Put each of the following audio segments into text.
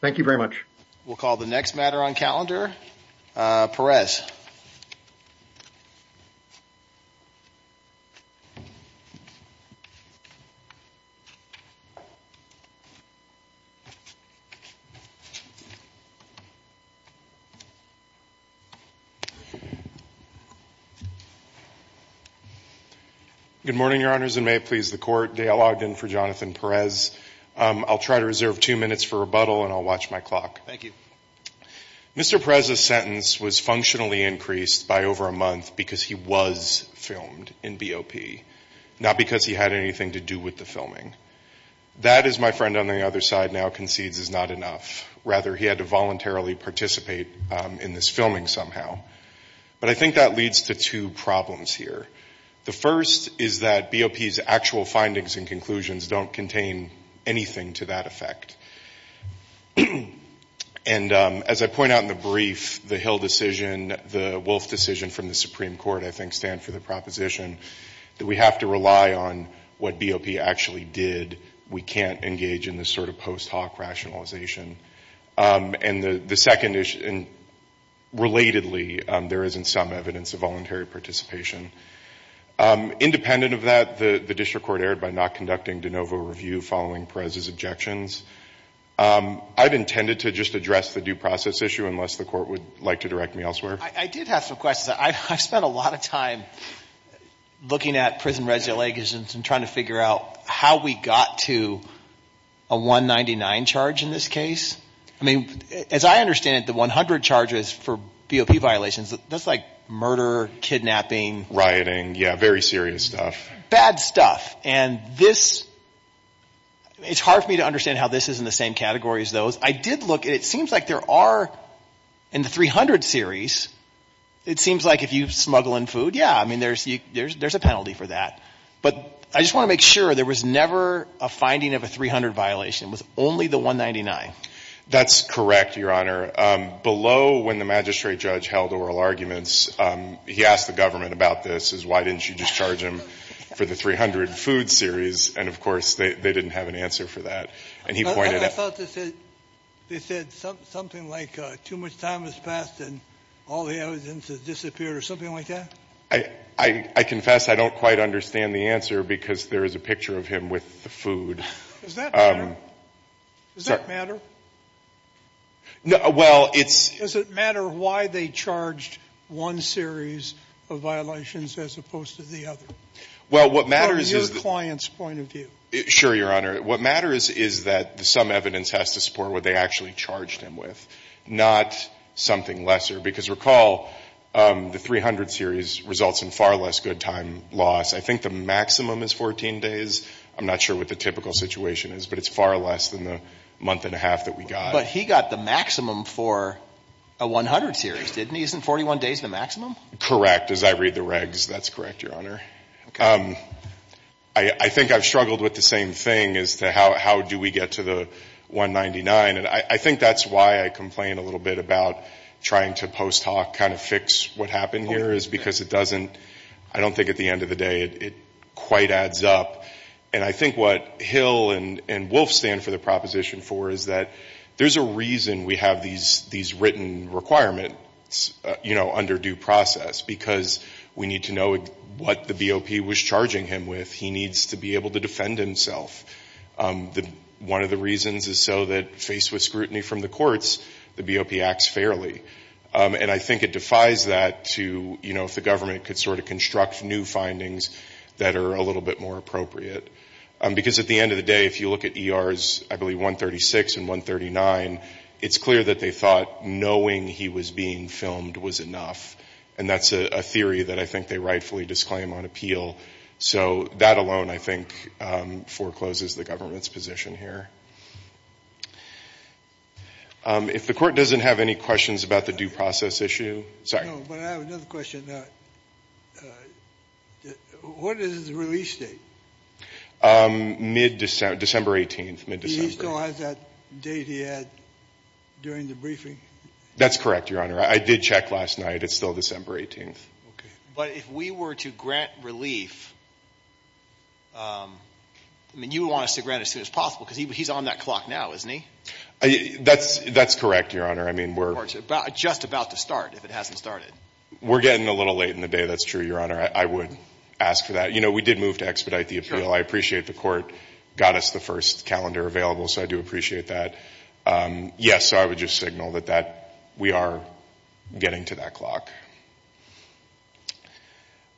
Thank you very much. We'll call the next matter on calendar. Perez. Good morning, Your Honors, and may it please the Court, Dale Ogden for Jonathan Perez. I'll try to reserve two minutes for rebuttal and I'll watch my clock. Mr. Perez's sentence was functionally increased by over a month because he was filmed in BOP, not because he had anything to do with the filming. That, as my friend on the other side now concedes, is not enough. Rather, he had to voluntarily participate in this filming somehow. But I think that leads to two problems here. The first is that BOP's actual findings and conclusions don't contain anything to that effect. And as I point out in the brief, the Hill decision, the Wolf decision from the Supreme Court, I think stand for the proposition that we have to rely on what BOP actually did. We can't engage in this sort of post hoc rationalization. And the second issue, relatedly, there isn't some evidence of voluntary participation. Independent of that, the district court erred by not conducting de novo review following Perez's objections. I've intended to just address the due process issue unless the Court would like to direct me elsewhere. I did have some questions. I've spent a lot of time looking at prison regula and trying to figure out how we got to a 199 charge in this case. I mean, as I understand it, the 100 charges for BOP violations, that's like murder, kidnapping. Rioting, yeah, very serious stuff. Bad stuff. And this, it's hard for me to understand how this is in the same category as those. I did look. It seems like there are in the 300 series, it seems like if you smuggle in food, yeah, I mean, there's a penalty for that. But I just want to make sure there was never a finding of a 300 violation. It was only the 199. That's correct, Your Honor. Below when the magistrate judge held oral arguments, he asked the government about this, why didn't you just charge him for the 300 food series. And, of course, they didn't have an answer for that. And he pointed out. I thought they said something like too much time has passed and all the evidence has disappeared or something like that. I confess I don't quite understand the answer because there is a picture of him with the food. Does that matter? Sorry. Does that matter? Well, it's. Does it matter why they charged one series of violations as opposed to the other? Well, what matters is. From your client's point of view. Sure, Your Honor. What matters is that some evidence has to support what they actually charged him with, not something lesser. Because recall, the 300 series results in far less good time loss. I think the maximum is 14 days. I'm not sure what the typical situation is, but it's far less than the month and a half that we got. But he got the maximum for a 100 series, didn't he? Isn't 41 days the maximum? Correct. As I read the regs, that's correct, Your Honor. I think I've struggled with the same thing as to how do we get to the 199. And I think that's why I complain a little bit about trying to post hoc kind of fix what happened here is because it doesn't. I don't think at the end of the day it quite adds up. And I think what Hill and Wolf stand for the proposition for is that there's a reason we have these written requirements, you know, under due process. Because we need to know what the BOP was charging him with. He needs to be able to defend himself. One of the reasons is so that faced with scrutiny from the courts, the BOP acts fairly. And I think it defies that to, you know, if the government could sort of construct new findings that are a little bit more appropriate. Because at the end of the day, if you look at ERs, I believe, 136 and 139, it's clear that they thought knowing he was being filmed was enough. And that's a theory that I think they rightfully disclaim on appeal. So that alone, I think, forecloses the government's position here. If the Court doesn't have any questions about the due process issue. Sorry. No, but I have another question. What is his release date? Mid-December, December 18th, mid-December. He still has that date he had during the briefing? That's correct, Your Honor. I did check last night. It's still December 18th. But if we were to grant relief, I mean, you would want us to grant it as soon as possible because he's on that clock now, isn't he? That's correct, Your Honor. I mean, we're just about to start if it hasn't started. We're getting a little late in the day. That's true, Your Honor. I would ask for that. You know, we did move to expedite the appeal. I appreciate the Court got us the first calendar available, so I do appreciate that. Yes, I would just signal that we are getting to that clock.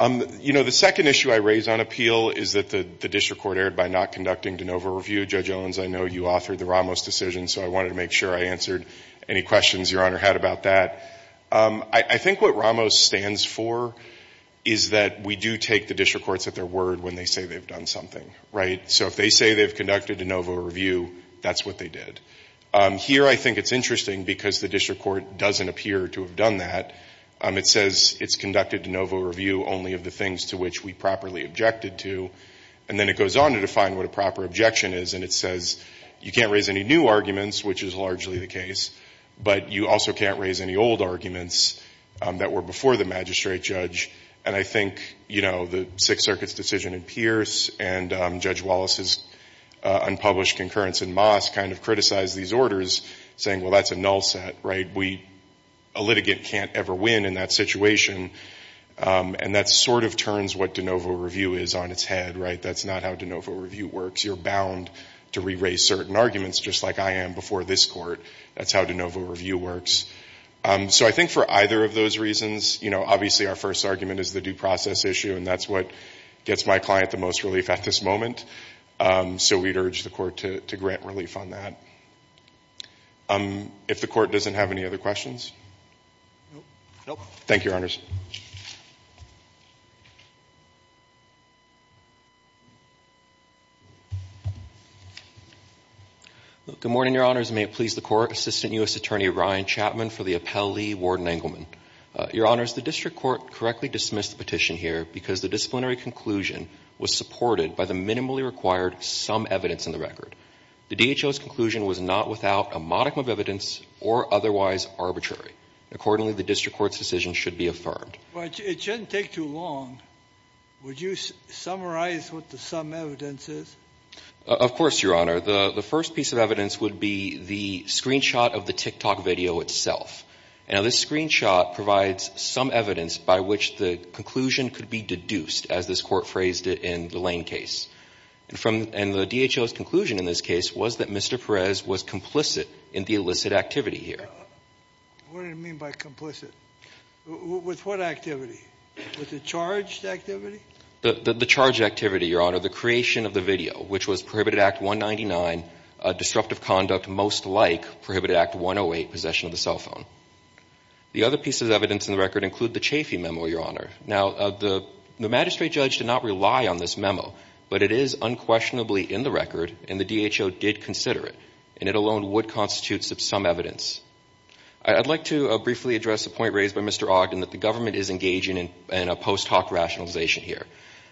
You know, the second issue I raise on appeal is that the district court erred by not conducting de novo review. Judge Owens, I know you authored the Ramos decision, so I wanted to make sure I answered any questions Your Honor had about that. I think what Ramos stands for is that we do take the district courts at their word when they say they've done something, right? So if they say they've conducted de novo review, that's what they did. Here I think it's interesting because the district court doesn't appear to have done that. It says it's conducted de novo review only of the things to which we properly objected to, and then it goes on to define what a proper objection is, and it says you can't raise any new arguments, which is largely the case, but you also can't raise any old arguments that were before the magistrate judge, and I think, you know, the Sixth Circuit's decision in Pierce and Judge Wallace's unpublished concurrence in Moss kind of criticized these orders saying, well, that's a null set, right? A litigant can't ever win in that situation, and that sort of turns what de novo review is on its head, right? That's not how de novo review works. You're bound to re-raise certain arguments just like I am before this court. That's how de novo review works. So I think for either of those reasons, you know, obviously our first argument is the due process issue, and that's what gets my client the most relief at this moment. So we'd urge the court to grant relief on that. If the court doesn't have any other questions. Thank you, Your Honors. Good morning, Your Honors. May it please the Court, Assistant U.S. Attorney Ryan Chapman for the appellee, Warden Engelman. Your Honors, the district court correctly dismissed the petition here because the disciplinary conclusion was supported by the minimally required sum evidence in the record. The DHO's conclusion was not without a modicum of evidence or otherwise arbitrary. Accordingly, the district court's decision should be affirmed. Well, it shouldn't take too long. Would you summarize what the sum evidence is? Of course, Your Honor. The first piece of evidence would be the screenshot of the TikTok video itself. Now, this screenshot provides some evidence by which the conclusion could be deduced, as this court phrased it in the Lane case. And the DHO's conclusion in this case was that Mr. Perez was complicit in the illicit activity here. What do you mean by complicit? With what activity? With the charged activity? The charged activity, Your Honor, the creation of the video, which was Prohibited Act 199, disruptive conduct most like Prohibited Act 108, possession of the cell phone. The other pieces of evidence in the record include the Chafee memo, Your Honor. Now, the magistrate judge did not rely on this memo, but it is unquestionably in the record, and the DHO did consider it, and it alone would constitute some evidence. I'd like to briefly address a point raised by Mr. Ogden, that the government is engaging in a post hoc rationalization here.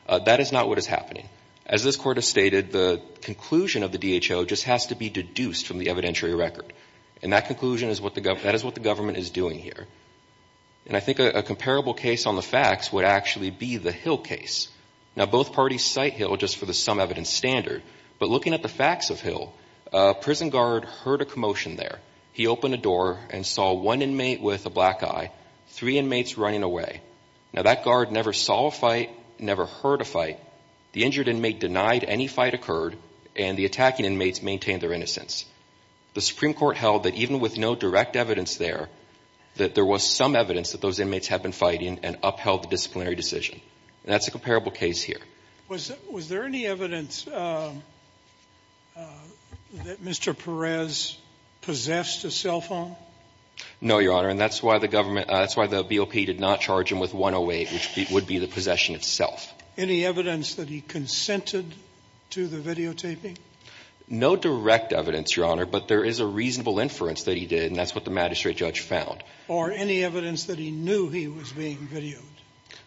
That is not what is happening. As this court has stated, the conclusion of the DHO just has to be deduced from the evidentiary record, and that conclusion is what the government is doing here. And I think a comparable case on the facts would actually be the Hill case. Now, both parties cite Hill just for the sum evidence standard, but looking at the facts of Hill, a prison guard heard a commotion there. He opened a door and saw one inmate with a black eye, three inmates running away. Now, that guard never saw a fight, never heard a fight. The injured inmate denied any fight occurred, and the attacking inmates maintained their innocence. The Supreme Court held that even with no direct evidence there, that there was some evidence that those inmates had been fighting and upheld the disciplinary decision. That's a comparable case here. Sotomayor, was there any evidence that Mr. Perez possessed a cell phone? No, Your Honor, and that's why the government – that's why the BOP did not charge him with 108, which would be the possession itself. Any evidence that he consented to the videotaping? No direct evidence, Your Honor, but there is a reasonable inference that he did, and that's what the magistrate judge found. Or any evidence that he knew he was being videotaped?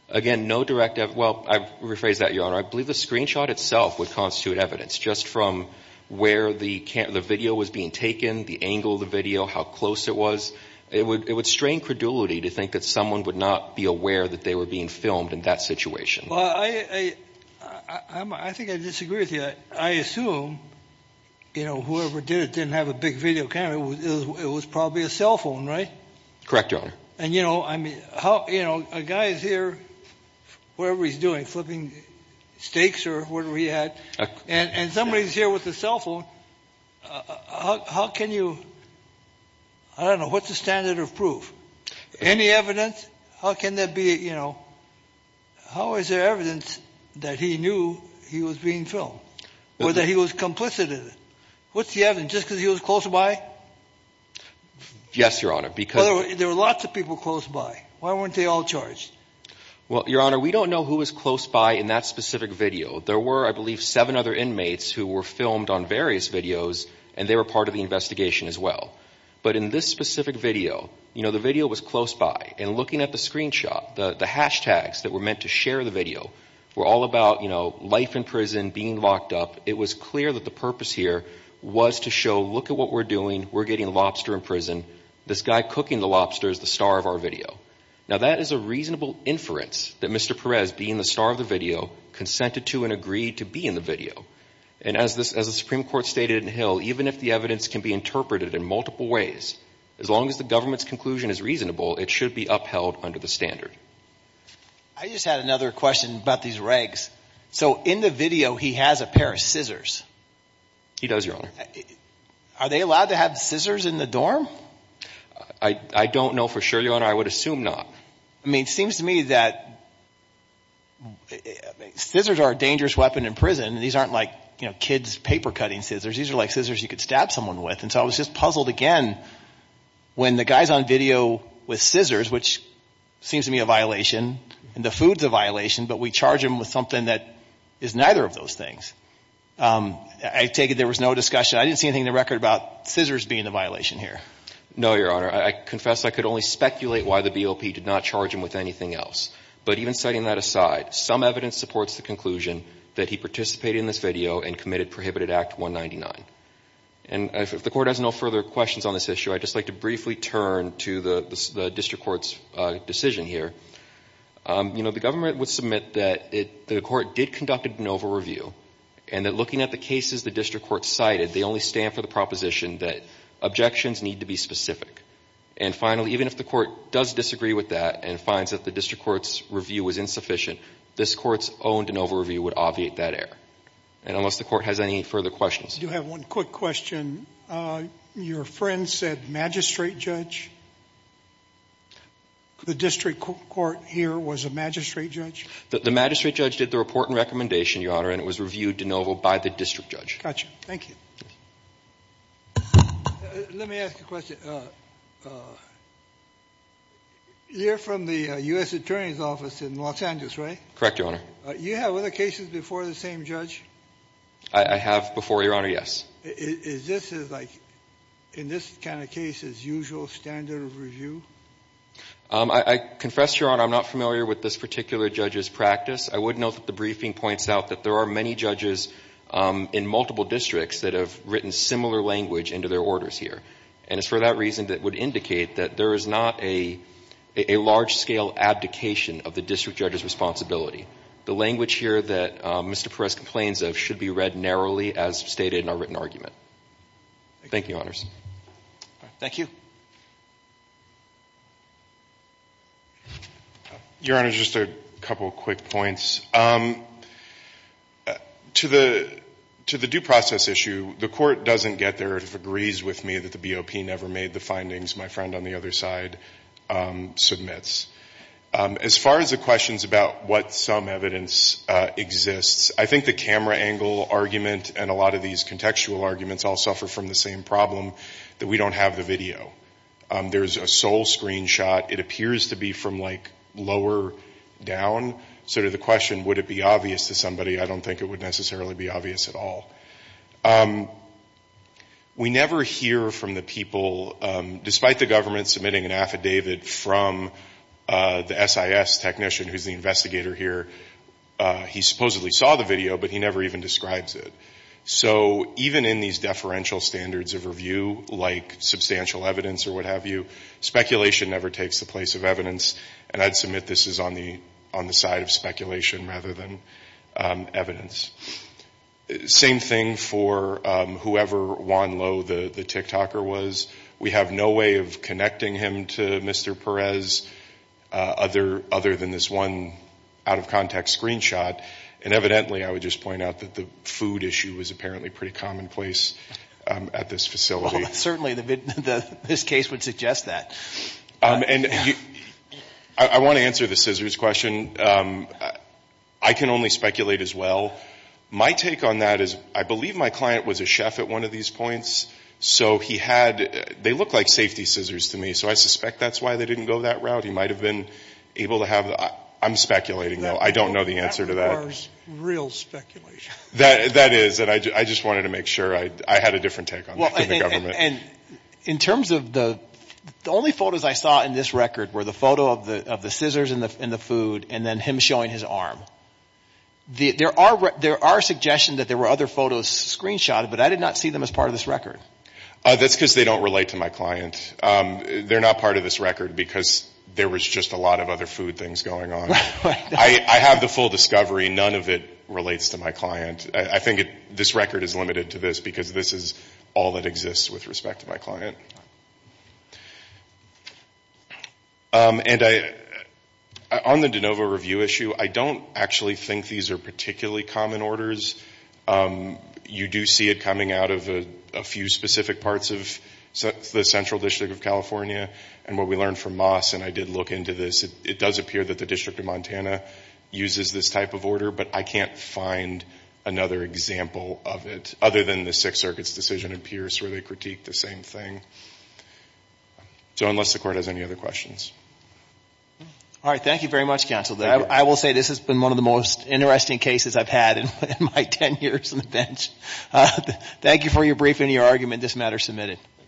Again, no direct – well, I rephrase that, Your Honor. I believe the screenshot itself would constitute evidence, just from where the video was being taken, the angle of the video, how close it was. It would strain credulity to think that someone would not be aware that they were being filmed in that situation. Well, I think I disagree with you. I assume, you know, whoever did it didn't have a big video camera. It was probably a cell phone, right? Correct, Your Honor. And, you know, I mean, how – you know, a guy is here, whatever he's doing, flipping steaks or whatever he had, and somebody's here with a cell phone. How can you – I don't know. What's the standard of proof? Any evidence? How can that be, you know – how is there evidence that he knew he was being filmed or that he was complicit in it? What's the evidence? Just because he was close by? Yes, Your Honor, because – There were lots of people close by. Why weren't they all charged? Well, Your Honor, we don't know who was close by in that specific video. There were, I believe, seven other inmates who were filmed on various videos, and they were part of the investigation as well. But in this specific video, you know, the video was close by. And looking at the screenshot, the hashtags that were meant to share the video were all about, you know, life in prison, being locked up. It was clear that the purpose here was to show, look at what we're doing. We're getting lobster in prison. This guy cooking the lobster is the star of our video. Now, that is a reasonable inference that Mr. Perez, being the star of the video, consented to and agreed to be in the video. And as the Supreme Court stated in Hill, even if the evidence can be interpreted in multiple ways, as long as the government's conclusion is reasonable, it should be upheld under the standard. I just had another question about these regs. So in the video, he has a pair of scissors. He does, Your Honor. Are they allowed to have scissors in the dorm? I don't know for sure, Your Honor. I would assume not. I mean, it seems to me that scissors are a dangerous weapon in prison. These aren't like, you know, kids' paper-cutting scissors. These are like scissors you could stab someone with. And so I was just puzzled again when the guy's on video with scissors, which seems to me a violation, and the food's a violation, but we charge him with something that is neither of those things. I take it there was no discussion. I didn't see anything in the record about scissors being a violation here. No, Your Honor. I confess I could only speculate why the BOP did not charge him with anything else. But even setting that aside, some evidence supports the conclusion that he participated in this video and committed Prohibited Act 199. And if the Court has no further questions on this issue, I'd just like to briefly turn to the district court's decision here. You know, the government would submit that the court did conduct a de novo review and that looking at the cases the district court cited, they only stand for the proposition that objections need to be specific. And finally, even if the court does disagree with that and finds that the district court's review was insufficient, this court's de novo review would obviate that error. And unless the court has any further questions. I do have one quick question. Your friend said magistrate judge. The district court here was a magistrate judge? The magistrate judge did the report and recommendation, Your Honor, and it was reviewed de novo by the district judge. Gotcha. Thank you. Let me ask a question. You're from the U.S. Attorney's Office in Los Angeles, right? Correct, Your Honor. You have other cases before the same judge? I have before, Your Honor, yes. Is this like in this kind of case as usual standard of review? I confess, Your Honor, I'm not familiar with this particular judge's practice. I would note that the briefing points out that there are many judges in multiple districts that have written similar language into their orders here. And it's for that reason that would indicate that there is not a large-scale abdication of the district judge's responsibility. The language here that Mr. Perez complains of should be read narrowly, as stated in our written argument. Thank you, Your Honors. Thank you. Your Honor, just a couple of quick points. To the due process issue, the court doesn't get there. It agrees with me that the BOP never made the findings. My friend on the other side submits. As far as the questions about what some evidence exists, I think the camera angle argument and a lot of these contextual arguments all suffer from the same problem, that we don't have the video. There's a sole screenshot. It appears to be from, like, lower down. Sort of the question, would it be obvious to somebody? I don't think it would necessarily be obvious at all. We never hear from the people, despite the government submitting an affidavit from the SIS technician who's the investigator here. He supposedly saw the video, but he never even describes it. So even in these deferential standards of review, like substantial evidence or what have you, speculation never takes the place of evidence. And I'd submit this is on the side of speculation rather than evidence. Same thing for whoever Juan Lowe, the TikToker, was. We have no way of connecting him to Mr. Perez, other than this one out-of-context screenshot. And evidently, I would just point out that the food issue was apparently pretty commonplace at this facility. Well, certainly this case would suggest that. And I want to answer the scissors question. I can only speculate as well. My take on that is I believe my client was a chef at one of these points, so he had – they look like safety scissors to me, so I suspect that's why they didn't go that route. He might have been able to have – I'm speculating, though. I don't know the answer to that. That requires real speculation. That is, and I just wanted to make sure I had a different take on the government. And in terms of the – the only photos I saw in this record were the photo of the scissors and the food and then him showing his arm. There are suggestions that there were other photos screenshotted, but I did not see them as part of this record. That's because they don't relate to my client. They're not part of this record because there was just a lot of other food things going on. I have the full discovery. None of it relates to my client. I think this record is limited to this because this is all that exists with respect to my client. And I – on the de novo review issue, I don't actually think these are particularly common orders. You do see it coming out of a few specific parts of the Central District of California. And what we learned from Moss, and I did look into this, it does appear that the District of Montana uses this type of order, but I can't find another example of it other than the Sixth Circuit's decision in Pierce where they critiqued the same thing. So unless the Court has any other questions. All right. Thank you very much, Counsel. I will say this has been one of the most interesting cases I've had in my 10 years on the bench. Thank you for your briefing and your argument. This matter is submitted.